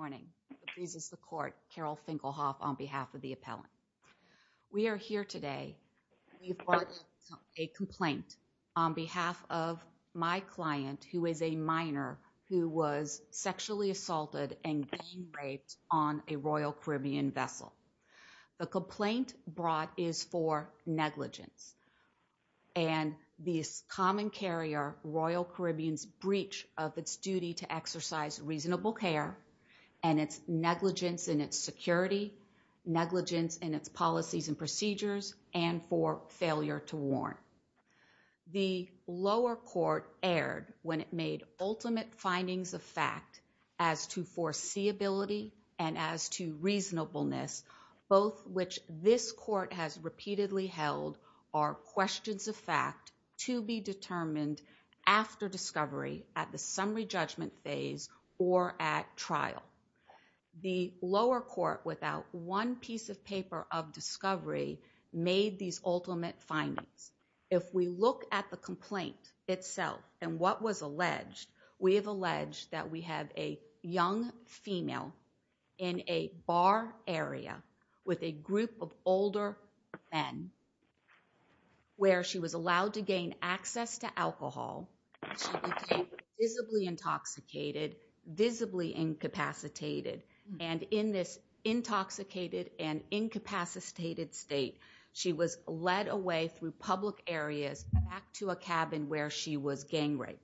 morning, this is the court, Carol Finkelhoff on behalf of the appellant. We are here today, we brought a complaint on behalf of my client who is a minor who was sexually assaulted and gang raped on a Royal Caribbean vessel. The complaint brought is for negligence and the common carrier Royal Caribbean's breach of its duty to exercise reasonable care and its negligence in its security, negligence in its policies and procedures and for failure to warn. The lower court aired when it made ultimate findings of fact as to foreseeability and as to reasonableness, both which this court has repeatedly held are questions of fact to be determined after discovery at the summary judgment phase or at trial. The lower court without one piece of paper of discovery made these ultimate findings. If we look at the complaint itself and what was alleged, we have alleged that we have a young female in a bar area with a group of older men where she was allowed to gain access to alcohol. Visibly intoxicated, visibly incapacitated, and in this intoxicated and incapacitated state, she was led away through public areas back to a cabin where she was gang raped.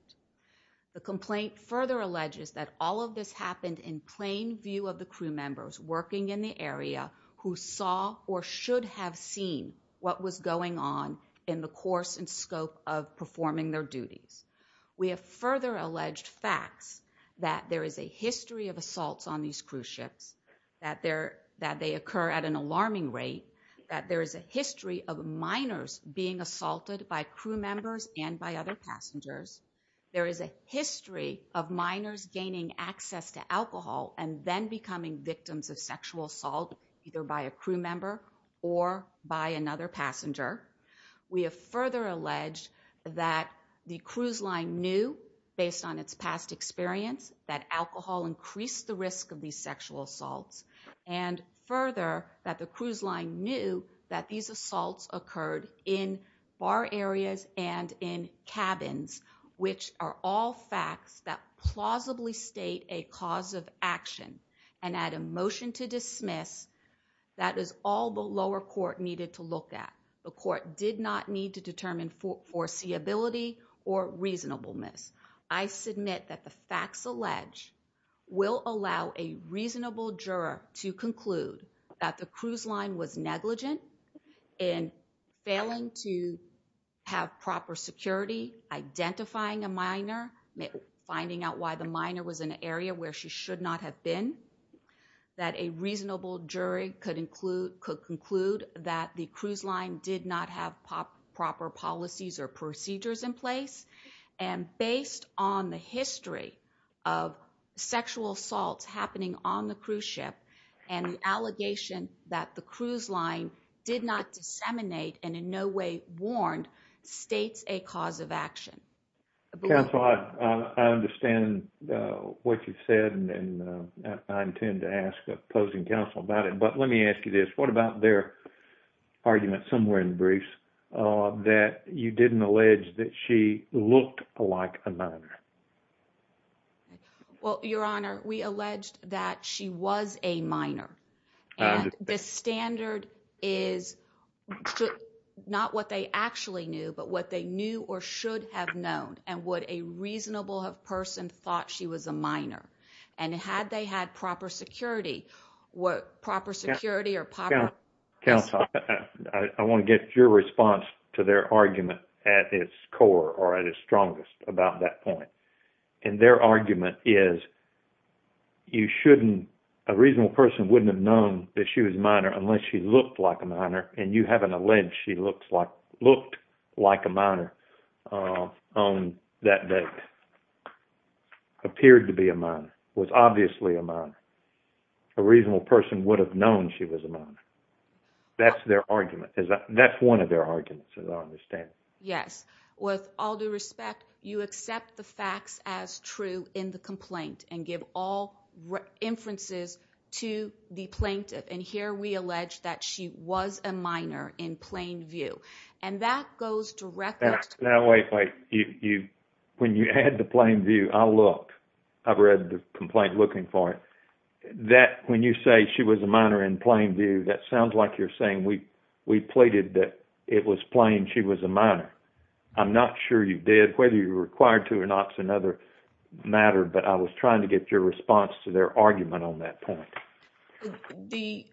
The complaint further alleges that all of this happened in plain view of the crew members working in the area who saw or should have seen what was going on in the course and scope of performing their duties. We have further alleged facts that there is a history of assaults on these cruise ships, that they occur at an alarming rate, that there is a history of minors being assaulted by crew members and by other passengers. There is a history of minors gaining access to alcohol and then becoming victims of sexual assault either by a crew member or by another passenger. We have further alleged that the cruise line knew, based on its past experience, that alcohol increased the risk of these sexual assaults. And further, that the cruise line knew that these assaults occurred in bar areas and in cabins, which are all facts that plausibly state a cause of action. And at a motion to dismiss, that is all the lower court needed to look at. The court did not need to determine foreseeability or reasonableness. I submit that the facts alleged will allow a reasonable juror to conclude that the cruise line was negligent in failing to have proper security, identifying a minor, finding out why the minor was in an area where she should not have been. That a reasonable jury could conclude that the cruise line did not have proper policies or procedures in place. And based on the history of sexual assaults happening on the cruise ship and the allegation that the cruise line did not disseminate and in no way warned, states a cause of action. Counsel, I understand what you've said and I intend to ask opposing counsel about it, but let me ask you this. What about their argument somewhere in the briefs that you didn't allege that she looked like a minor? Well, your honor, we alleged that she was a minor and the standard is not what they actually knew, but what they knew or should have known and what a reasonable person thought she was a minor. Counsel, I want to get your response to their argument at its core or at its strongest about that point. And their argument is a reasonable person wouldn't have known that she was a minor unless she looked like a minor and you haven't alleged she looked like a minor on that date, appeared to be a minor. Was obviously a minor. A reasonable person would have known she was a minor. That's their argument. That's one of their arguments, as I understand it. Yes. With all due respect, you accept the facts as true in the complaint and give all inferences to the plaintiff. And here we allege that she was a minor in plain view. And that goes directly to... Now, wait, wait. When you add the plain view, I'll look. I've read the complaint looking for it. That when you say she was a minor in plain view, that sounds like you're saying we pleaded that it was plain she was a minor. I'm not sure you did, whether you were required to or not is another matter, but I was trying to get your response to their argument on that point.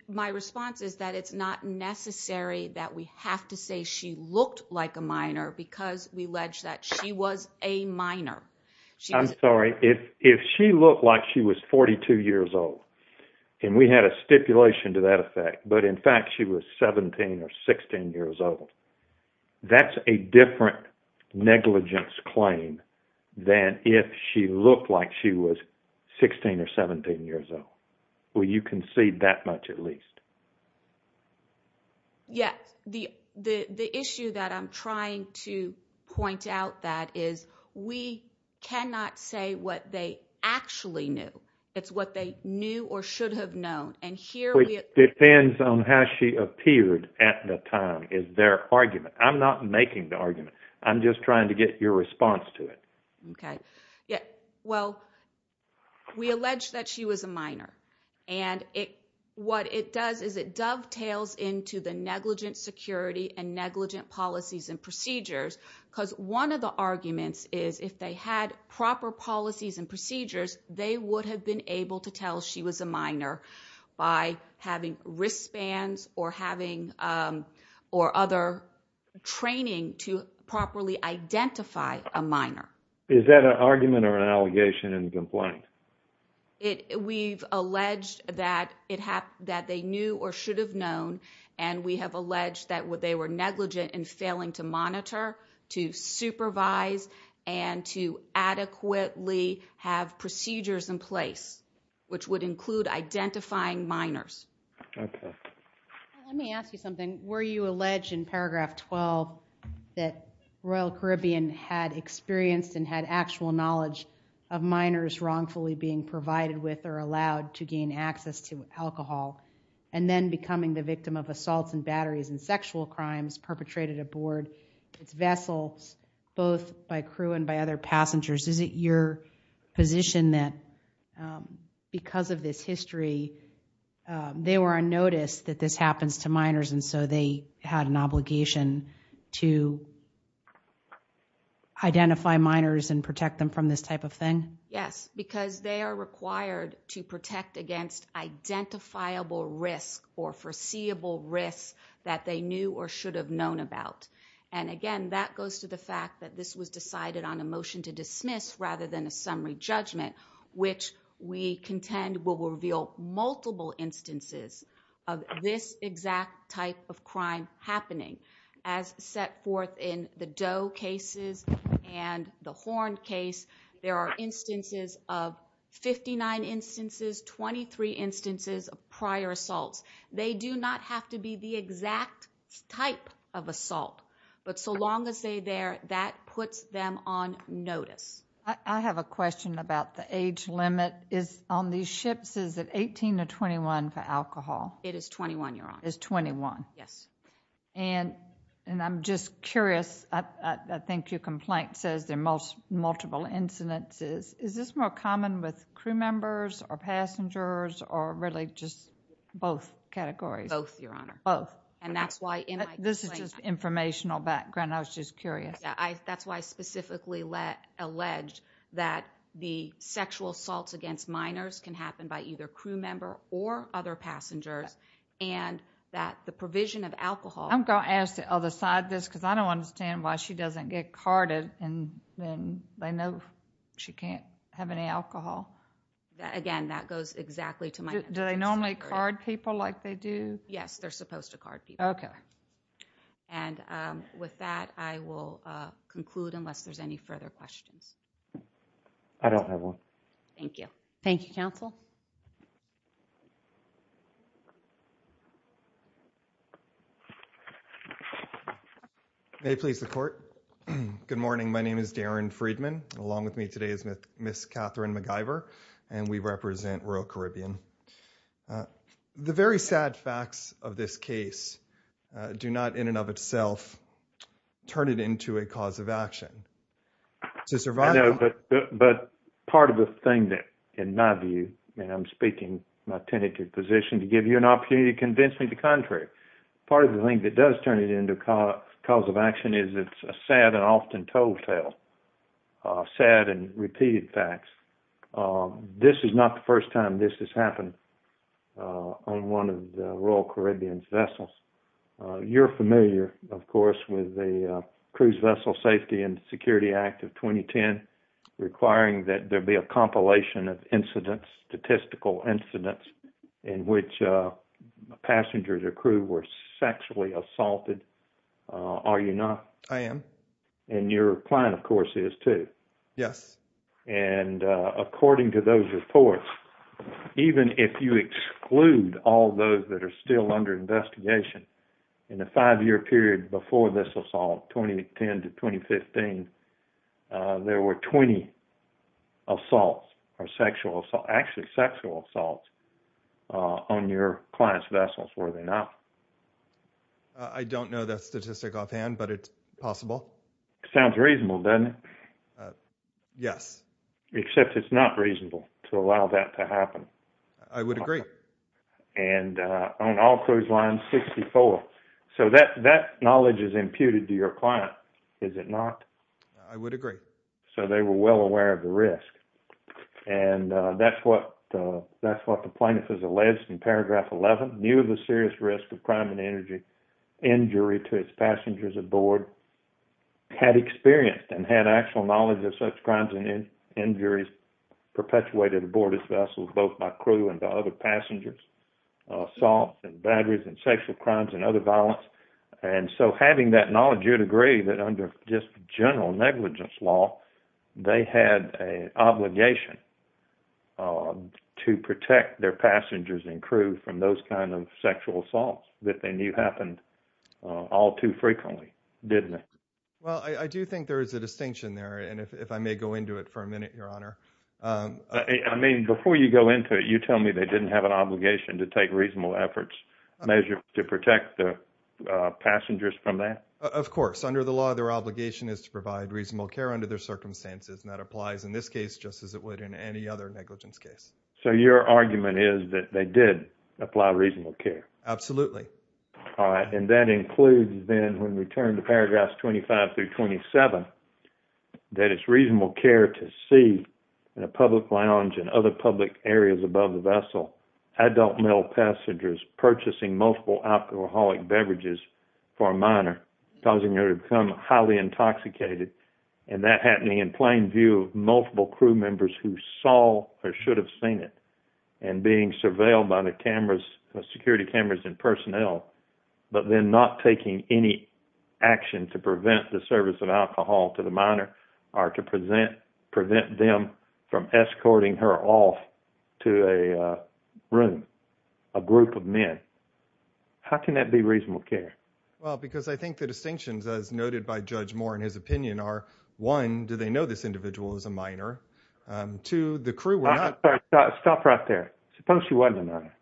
My response is that it's not necessary that we have to say she looked like a minor because we allege that she was a minor. I'm sorry. If she looked like she was 42 years old, and we had a stipulation to that effect, but in fact she was 17 or 16 years old, that's a different negligence claim than if she looked like she was 16 or 17 years old. Well, you concede that much at least. Yes. The issue that I'm trying to point out that is we cannot say what they actually knew. It's what they knew or should have known. And here we... It depends on how she appeared at the time is their argument. I'm not making the argument. I'm just trying to get your response to it. Okay. Well, we allege that she was a minor. And what it does is it dovetails into the negligent security and negligent policies and procedures. Because one of the arguments is if they had proper policies and procedures, they would have been able to tell she was a minor by having wristbands or other training to properly identify a minor. Is that an argument or an allegation and complaint? We've alleged that they knew or should have known, and we have alleged that they were negligent in failing to monitor, to supervise, and to adequately have procedures in place, which would include identifying minors. Okay. Let me ask you something. Were you alleged in paragraph 12 that Royal Caribbean had experienced and had actual knowledge of minors wrongfully being provided with or allowed to gain access to alcohol, and then becoming the victim of assaults and batteries and sexual crimes perpetrated aboard its vessels, both by crew and by other passengers? Is it your position that because of this history, they were unnoticed that this happens to minors, and so they had an obligation to identify minors and protect them from this type of thing? Yes, because they are required to protect against identifiable risk or foreseeable risk that they knew or should have known about. And again, that goes to the fact that this was decided on a motion to dismiss rather than a summary judgment, which we contend will reveal multiple instances of this exact type of crime happening. As set forth in the Doe cases and the Horn case, there are instances of 59 instances, 23 instances of prior assaults. They do not have to be the exact type of assault, but so long as they're there, that puts them on notice. I have a question about the age limit on these ships. Is it 18 to 21 for alcohol? It is 21, Your Honor. It's 21? Yes. And I'm just curious. I think your complaint says there are multiple incidences. Is this more common with crew members or passengers or really just both categories? Both, Your Honor. Both. And that's why in my complaint— This is just informational background. I was just curious. That's why I specifically alleged that the sexual assaults against minors can happen by either crew member or other passengers and that the provision of alcohol— I'm going to ask the other side this because I don't understand why she doesn't get carded and then they know she can't have any alcohol. Again, that goes exactly to my— Do they normally card people like they do? Yes, they're supposed to card people. Okay. And with that, I will conclude unless there's any further questions. I don't have one. Thank you. Thank you, Counsel. May it please the Court. Good morning. My name is Darren Friedman. Along with me today is Ms. Catherine MacGyver, and we represent rural Caribbean. The very sad facts of this case do not in and of itself turn it into a cause of action. To survive— I know, but part of the thing that, in my view, and I'm speaking my tentative position to give you an opportunity to convince me the contrary, part of the thing that does turn it into a cause of action is it's a sad and often told tale, sad and repeated facts. This is not the first time this has happened on one of the rural Caribbean's vessels. You're familiar, of course, with the Cruise Vessel Safety and Security Act of 2010 requiring that there be a compilation of incidents, statistical incidents, in which passengers or crew were sexually assaulted. Are you not? I am. And your client, of course, is too. Yes. And according to those reports, even if you exclude all those that are still under investigation, in the five-year period before this assault, 2010 to 2015, there were 20 assaults or sexual—actually, sexual assaults on your client's vessels. Were they not? I don't know that statistic offhand, but it's possible. Sounds reasonable, doesn't it? Yes. Except it's not reasonable to allow that to happen. I would agree. And on all cruise lines, 64. So that knowledge is imputed to your client, is it not? I would agree. So they were well aware of the risk. And that's what the plaintiff has alleged in paragraph 11. Knew of the serious risk of crime and injury to its passengers aboard. Had experience and had actual knowledge of such crimes and injuries perpetuated aboard its vessels, both by crew and by other passengers. Assault and bad reasons, sexual crimes and other violence. And so having that knowledge, you'd agree that under just general negligence law, they had an obligation to protect their passengers and crew from those kinds of sexual assaults that they knew happened all too frequently, didn't they? Well, I do think there is a distinction there, and if I may go into it for a minute, Your Honor. I mean, before you go into it, you tell me they didn't have an obligation to take reasonable efforts to protect the passengers from that. Of course, under the law, their obligation is to provide reasonable care under their circumstances. And that applies in this case, just as it would in any other negligence case. So your argument is that they did apply reasonable care. Absolutely. All right. And that includes, then, when we turn to paragraphs 25 through 27, that it's reasonable care to see in a public lounge and other public areas above the vessel adult male passengers purchasing multiple alcoholic beverages for a minor, causing them to become highly intoxicated. And that happening in plain view of multiple crew members who saw or should have seen it and being surveilled by the security cameras and personnel, but then not taking any action to prevent the service of alcohol to the minor or to prevent them from escorting her off to a room, a group of men. How can that be reasonable care? Well, because I think the distinctions, as noted by Judge Moore in his opinion, are, one, do they know this individual is a minor? Two, the crew were not. Stop right there. Suppose she wasn't a minor.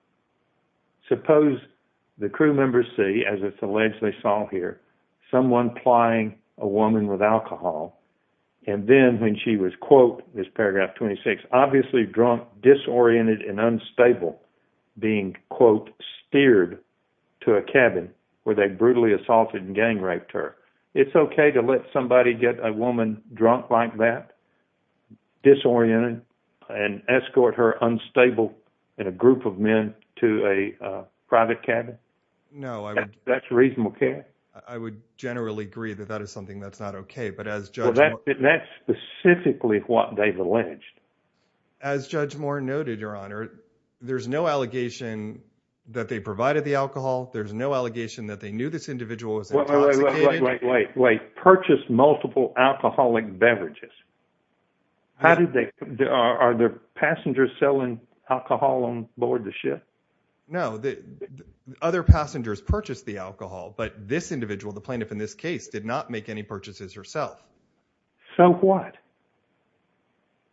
It's okay to let somebody get a woman drunk like that, disoriented, and escort her unstable in a group of men to a private cabin? No, I would. That's reasonable care? I would generally agree that that is something that's not okay. But as Judge Moore. That's specifically what they've alleged. As Judge Moore noted, Your Honor, there's no allegation that they provided the alcohol. There's no allegation that they knew this individual was intoxicated. Wait, wait, wait. Purchase multiple alcoholic beverages. How did they? Are the passengers selling alcohol on board the ship? No, other passengers purchased the alcohol, but this individual, the plaintiff in this case, did not make any purchases herself. So what?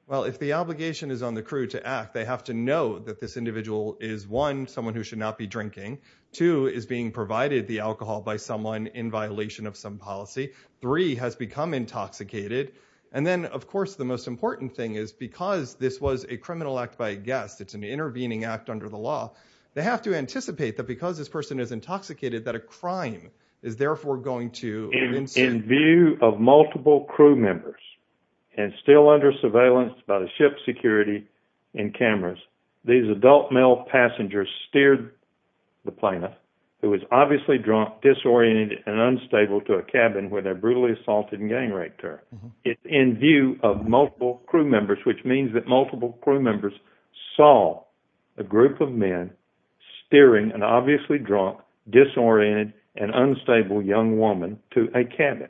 Well, if the obligation is on the crew to act, they have to know that this individual is, one, someone who should not be drinking. Two, is being provided the alcohol by someone in violation of some policy. Three, has become intoxicated. And then, of course, the most important thing is because this was a criminal act by a guest, it's an intervening act under the law, they have to anticipate that because this person is intoxicated, that a crime is therefore going to ensue. In view of multiple crew members, and still under surveillance by the ship's security and cameras, these adult male passengers steered the plaintiff, who was obviously drunk, disoriented, and unstable, to a cabin where they were brutally assaulted and gang raped her. It's in view of multiple crew members, which means that multiple crew members saw a group of men steering an obviously drunk, disoriented, and unstable young woman to a cabin.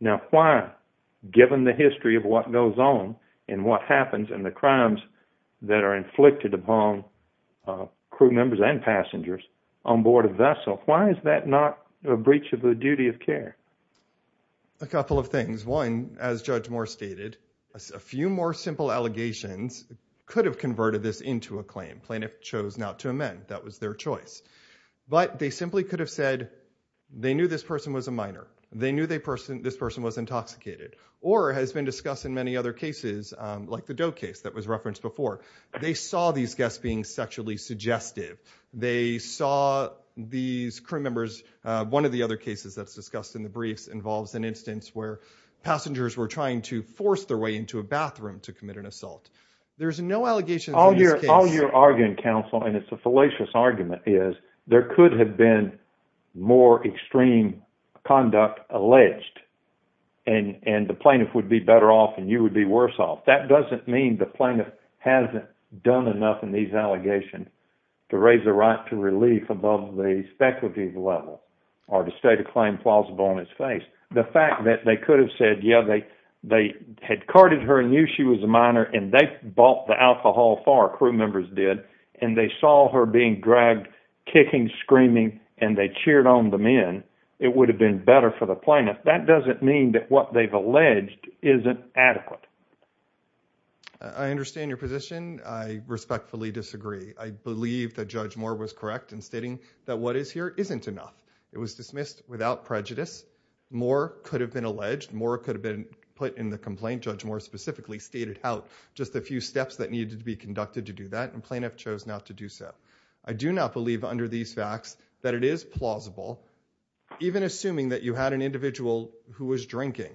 Now why, given the history of what goes on and what happens and the crimes that are inflicted upon crew members and passengers on board a vessel, why is that not a breach of the duty of care? A couple of things. One, as Judge Moore stated, a few more simple allegations could have converted this into a claim. Plaintiff chose not to amend. That was their choice. But they simply could have said, they knew this person was a minor. They knew this person was intoxicated. Or, as has been discussed in many other cases, like the Doe case that was referenced before, they saw these guests being sexually suggestive. They saw these crew members. One of the other cases that's discussed in the briefs involves an instance where passengers were trying to force their way into a bathroom to commit an assault. There's no allegations in this case. All you're arguing, counsel, and it's a fallacious argument, is there could have been more extreme conduct alleged. And the plaintiff would be better off and you would be worse off. That doesn't mean the plaintiff hasn't done enough in these allegations to raise the right to relief above the speculative level or to state a claim plausible on its face. The fact that they could have said, yeah, they had carded her and knew she was a minor and they bought the alcohol for her, crew members did, and they saw her being dragged, kicking, screaming, and they cheered on the men, it would have been better for the plaintiff. That doesn't mean that what they've alleged isn't adequate. I understand your position. I respectfully disagree. I believe that Judge Moore was correct in stating that what is here isn't enough. It was dismissed without prejudice. Moore could have been alleged. Moore could have been put in the complaint. Judge Moore specifically stated out just a few steps that needed to be conducted to do that, and the plaintiff chose not to do so. I do not believe under these facts that it is plausible, even assuming that you had an individual who was drinking,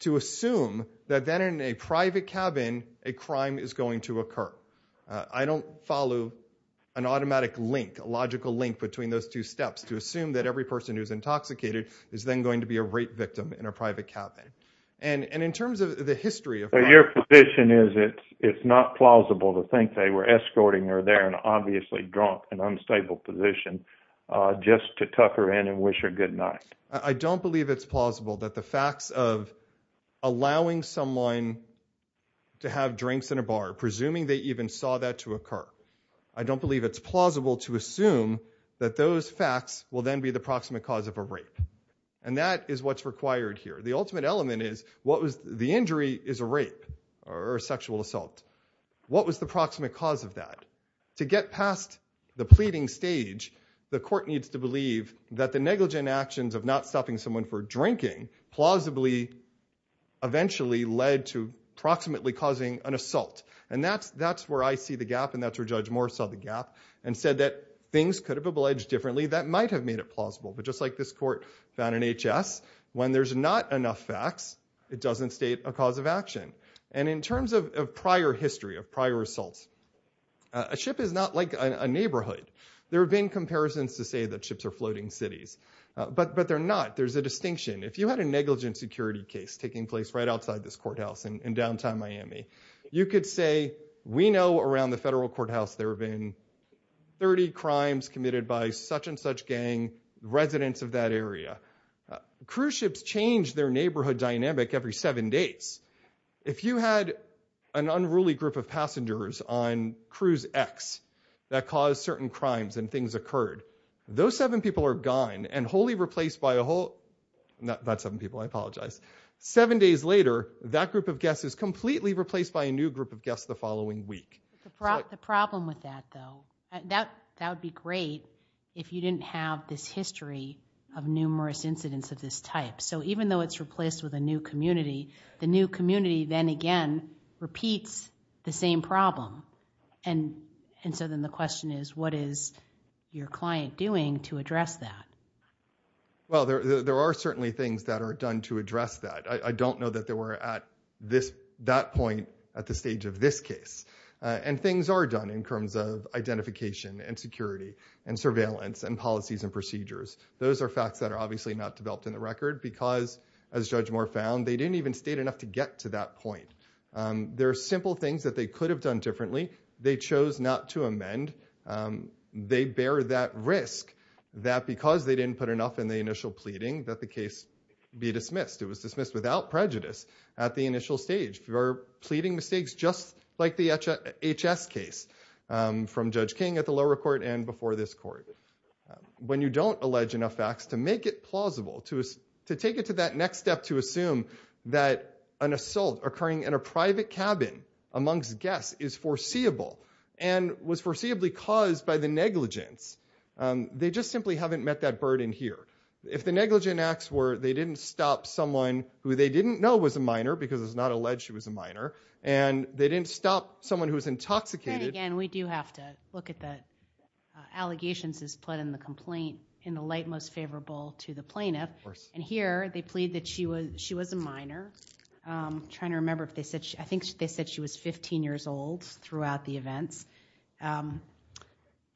to assume that then in a private cabin a crime is going to occur. I don't follow an automatic link, a logical link between those two steps to assume that every person who is intoxicated is then going to be a rape victim in a private cabin. Your position is it's not plausible to think they were escorting her there, in an obviously drunk and unstable position, just to tuck her in and wish her good night. I don't believe it's plausible that the facts of allowing someone to have drinks in a bar, presuming they even saw that to occur, I don't believe it's plausible to assume that those facts will then be the proximate cause of a rape. And that is what's required here. The ultimate element is the injury is a rape or a sexual assault. What was the proximate cause of that? To get past the pleading stage, the court needs to believe that the negligent actions of not stopping someone for drinking plausibly eventually led to proximately causing an assault. And that's where I see the gap, and that's where Judge Moore saw the gap, and said that things could have been alleged differently that might have made it plausible. But just like this court found in H.S., when there's not enough facts, it doesn't state a cause of action. And in terms of prior history, of prior assaults, a ship is not like a neighborhood. There have been comparisons to say that ships are floating cities, but they're not. There's a distinction. If you had a negligent security case taking place right outside this courthouse in downtown Miami, you could say, we know around the federal courthouse there have been 30 crimes committed by such and such gang, residents of that area. Cruise ships change their neighborhood dynamic every seven days. If you had an unruly group of passengers on cruise X that caused certain crimes and things occurred, those seven people are gone and wholly replaced by a whole, not seven people, I apologize. Seven days later, that group of guests is completely replaced by a new group of guests the following week. The problem with that, though, that would be great if you didn't have this history of numerous incidents of this type. So even though it's replaced with a new community, the new community then again repeats the same problem. And so then the question is, what is your client doing to address that? Well, there are certainly things that are done to address that. I don't know that they were at that point at the stage of this case. And things are done in terms of identification and security and surveillance and policies and procedures. Those are facts that are obviously not developed in the record because, as Judge Moore found, they didn't even state enough to get to that point. There are simple things that they could have done differently. They chose not to amend. They bear that risk that because they didn't put enough in the initial pleading that the case be dismissed. It was dismissed without prejudice at the initial stage. They're pleading mistakes just like the HS case from Judge King at the lower court and before this court. When you don't allege enough facts to make it plausible, to take it to that next step, to assume that an assault occurring in a private cabin amongst guests is foreseeable and was foreseeably caused by the negligence, they just simply haven't met that burden here. If the negligent acts were they didn't stop someone who they didn't know was a minor because it's not alleged she was a minor and they didn't stop someone who was intoxicated. And again, we do have to look at the allegations as put in the complaint in the light most favorable to the plaintiff. And here they plead that she was a minor. I'm trying to remember if they said she was 15 years old throughout the events.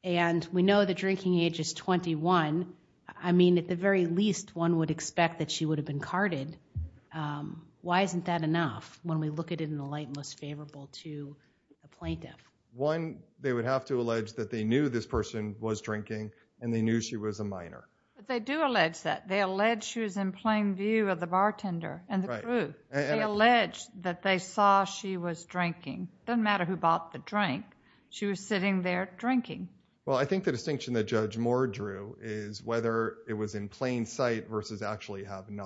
And we know the drinking age is 21. I mean, at the very least, one would expect that she would have been carded. Why isn't that enough when we look at it in the light most favorable to a plaintiff? One, they would have to allege that they knew this person was drinking and they knew she was a minor. But they do allege that. They allege she was in plain view of the bartender and the crew. They allege that they saw she was drinking. It doesn't matter who bought the drink. She was sitting there drinking. Well, I think the distinction that Judge Moore drew is whether it was in plain sight versus actually having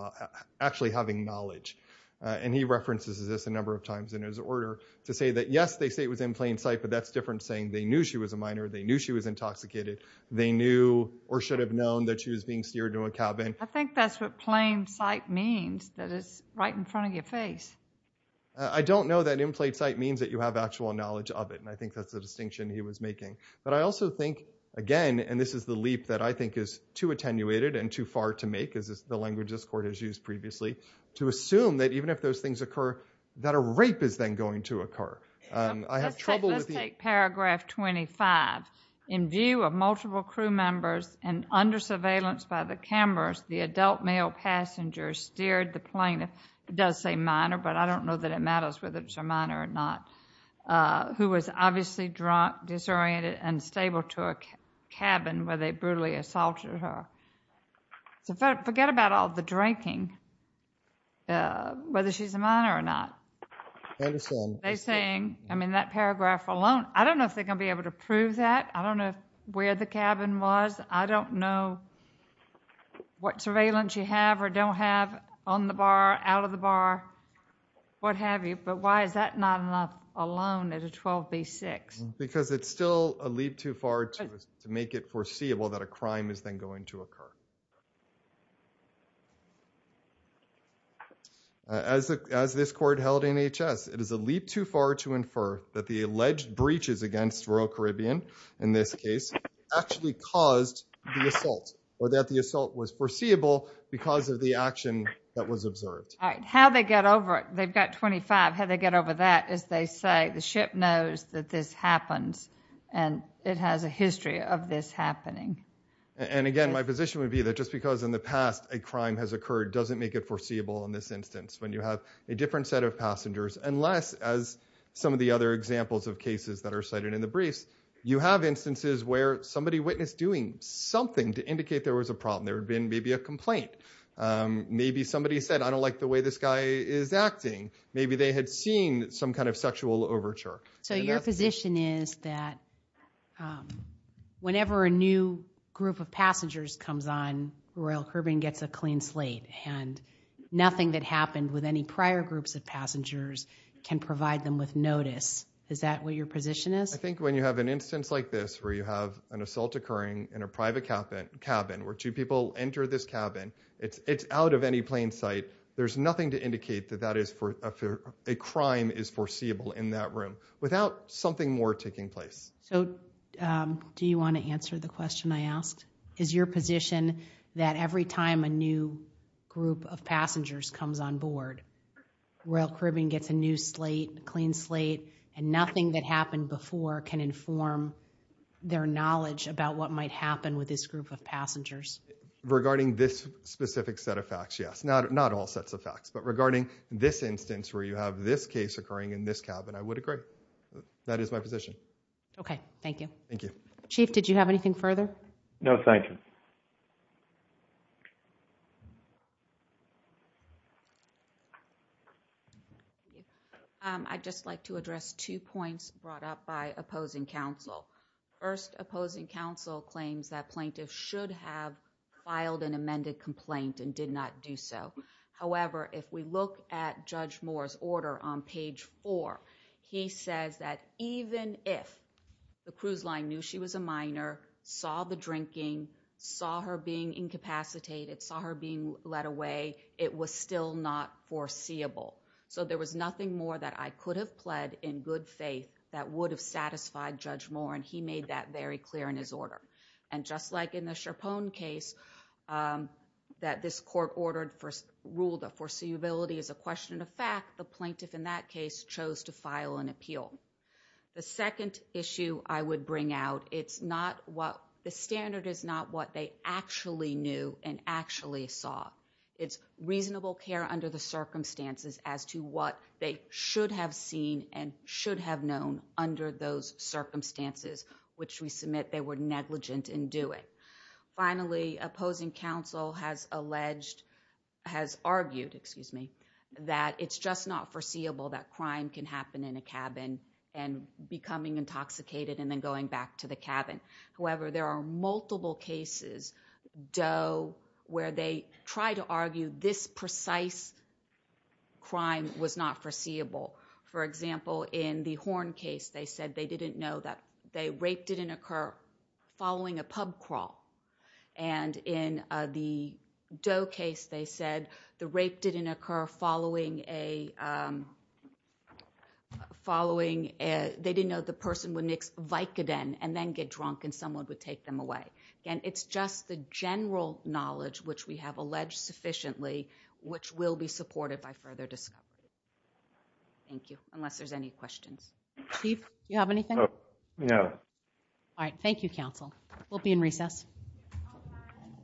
knowledge. And he references this a number of times in his order to say that, yes, they say it was in plain sight, but that's different saying they knew she was a minor, they knew she was intoxicated, they knew or should have known that she was being steered to a cabin. I think that's what plain sight means, that it's right in front of your face. I don't know that in plain sight means that you have actual knowledge of it, and I think that's the distinction he was making. But I also think, again, and this is the leap that I think is too attenuated and too far to make, as the language this Court has used previously, to assume that even if those things occur, that a rape is then going to occur. I have trouble with the- Let's take paragraph 25. In view of multiple crew members and under surveillance by the cameras, the adult male passenger steered the plane, it does say minor, but I don't know that it matters whether it's a minor or not, who was obviously drunk, disoriented, and stable to a cabin where they brutally assaulted her. So forget about all the drinking, whether she's a minor or not. I understand. They're saying, I mean, that paragraph alone, I don't know if they're going to be able to prove that. I don't know where the cabin was. I don't know what surveillance you have or don't have on the bar, out of the bar, what have you. But why is that not enough alone at a 12 v. 6? Because it's still a leap too far to make it foreseeable that a crime is then going to occur. As this Court held in H.S., it is a leap too far to infer that the alleged breaches against rural Caribbean, in this case, actually caused the assault, or that the assault was foreseeable because of the action that was observed. All right. How they get over it. They've got 25. How they get over that is they say the ship knows that this happens, and it has a history of this happening. And again, my position would be that just because in the past a crime has occurred doesn't make it foreseeable in this instance, when you have a different set of passengers, unless, as some of the other examples of cases that are cited in the briefs, you have instances where somebody witnessed doing something to indicate there was a problem. There had been maybe a complaint. Maybe somebody said, I don't like the way this guy is acting. Maybe they had seen some kind of sexual overture. So your position is that whenever a new group of passengers comes on, rural Caribbean gets a clean slate, and nothing that happened with any prior groups of passengers can provide them with notice. Is that what your position is? I think when you have an instance like this, where you have an assault occurring in a private cabin, where two people enter this cabin. It's out of any plain sight. There's nothing to indicate that a crime is foreseeable in that room, without something more taking place. So do you want to answer the question I asked? Is your position that every time a new group of passengers comes on board, rural Caribbean gets a new slate, a clean slate, and nothing that happened before can inform their knowledge about what might happen with this group of passengers? Regarding this specific set of facts, yes. Not all sets of facts. But regarding this instance where you have this case occurring in this cabin, I would agree. That is my position. Okay. Thank you. Thank you. Chief, did you have anything further? No, thank you. I'd just like to address two points brought up by opposing counsel. First, opposing counsel claims that plaintiffs should have filed an amended complaint and did not do so. However, if we look at Judge Moore's order on page four, he says that even if the cruise line knew she was a minor, saw the drinking, saw her being incapacitated, saw her being led away, it was still not foreseeable. So there was nothing more that I could have pled in good faith that would have satisfied Judge Moore. And he made that very clear in his order. And just like in the Sherpone case, that this court ruled that foreseeability is a question of fact, the plaintiff in that case chose to file an appeal. The second issue I would bring out, the standard is not what they actually knew and actually saw. It's reasonable care under the circumstances as to what they should have seen and should have known under those circumstances, which we submit they were negligent in doing. Finally, opposing counsel has alleged, has argued, excuse me, that it's just not foreseeable that crime can happen in a cabin and becoming intoxicated and then going back to the cabin. However, there are multiple cases, where they try to argue this precise crime was not foreseeable. For example, in the Horn case, they said they didn't know that the rape didn't occur following a pub crawl. And in the Doe case, they said the rape didn't occur following a, they didn't know the person would mix Vicodin and then get drunk and someone would take them away. Again, it's just the general knowledge, which we have alleged sufficiently, which will be supported by further discovery. Thank you. Unless there's any questions. Chief, you have anything? No. All right. Thank you, counsel. We'll be in recess.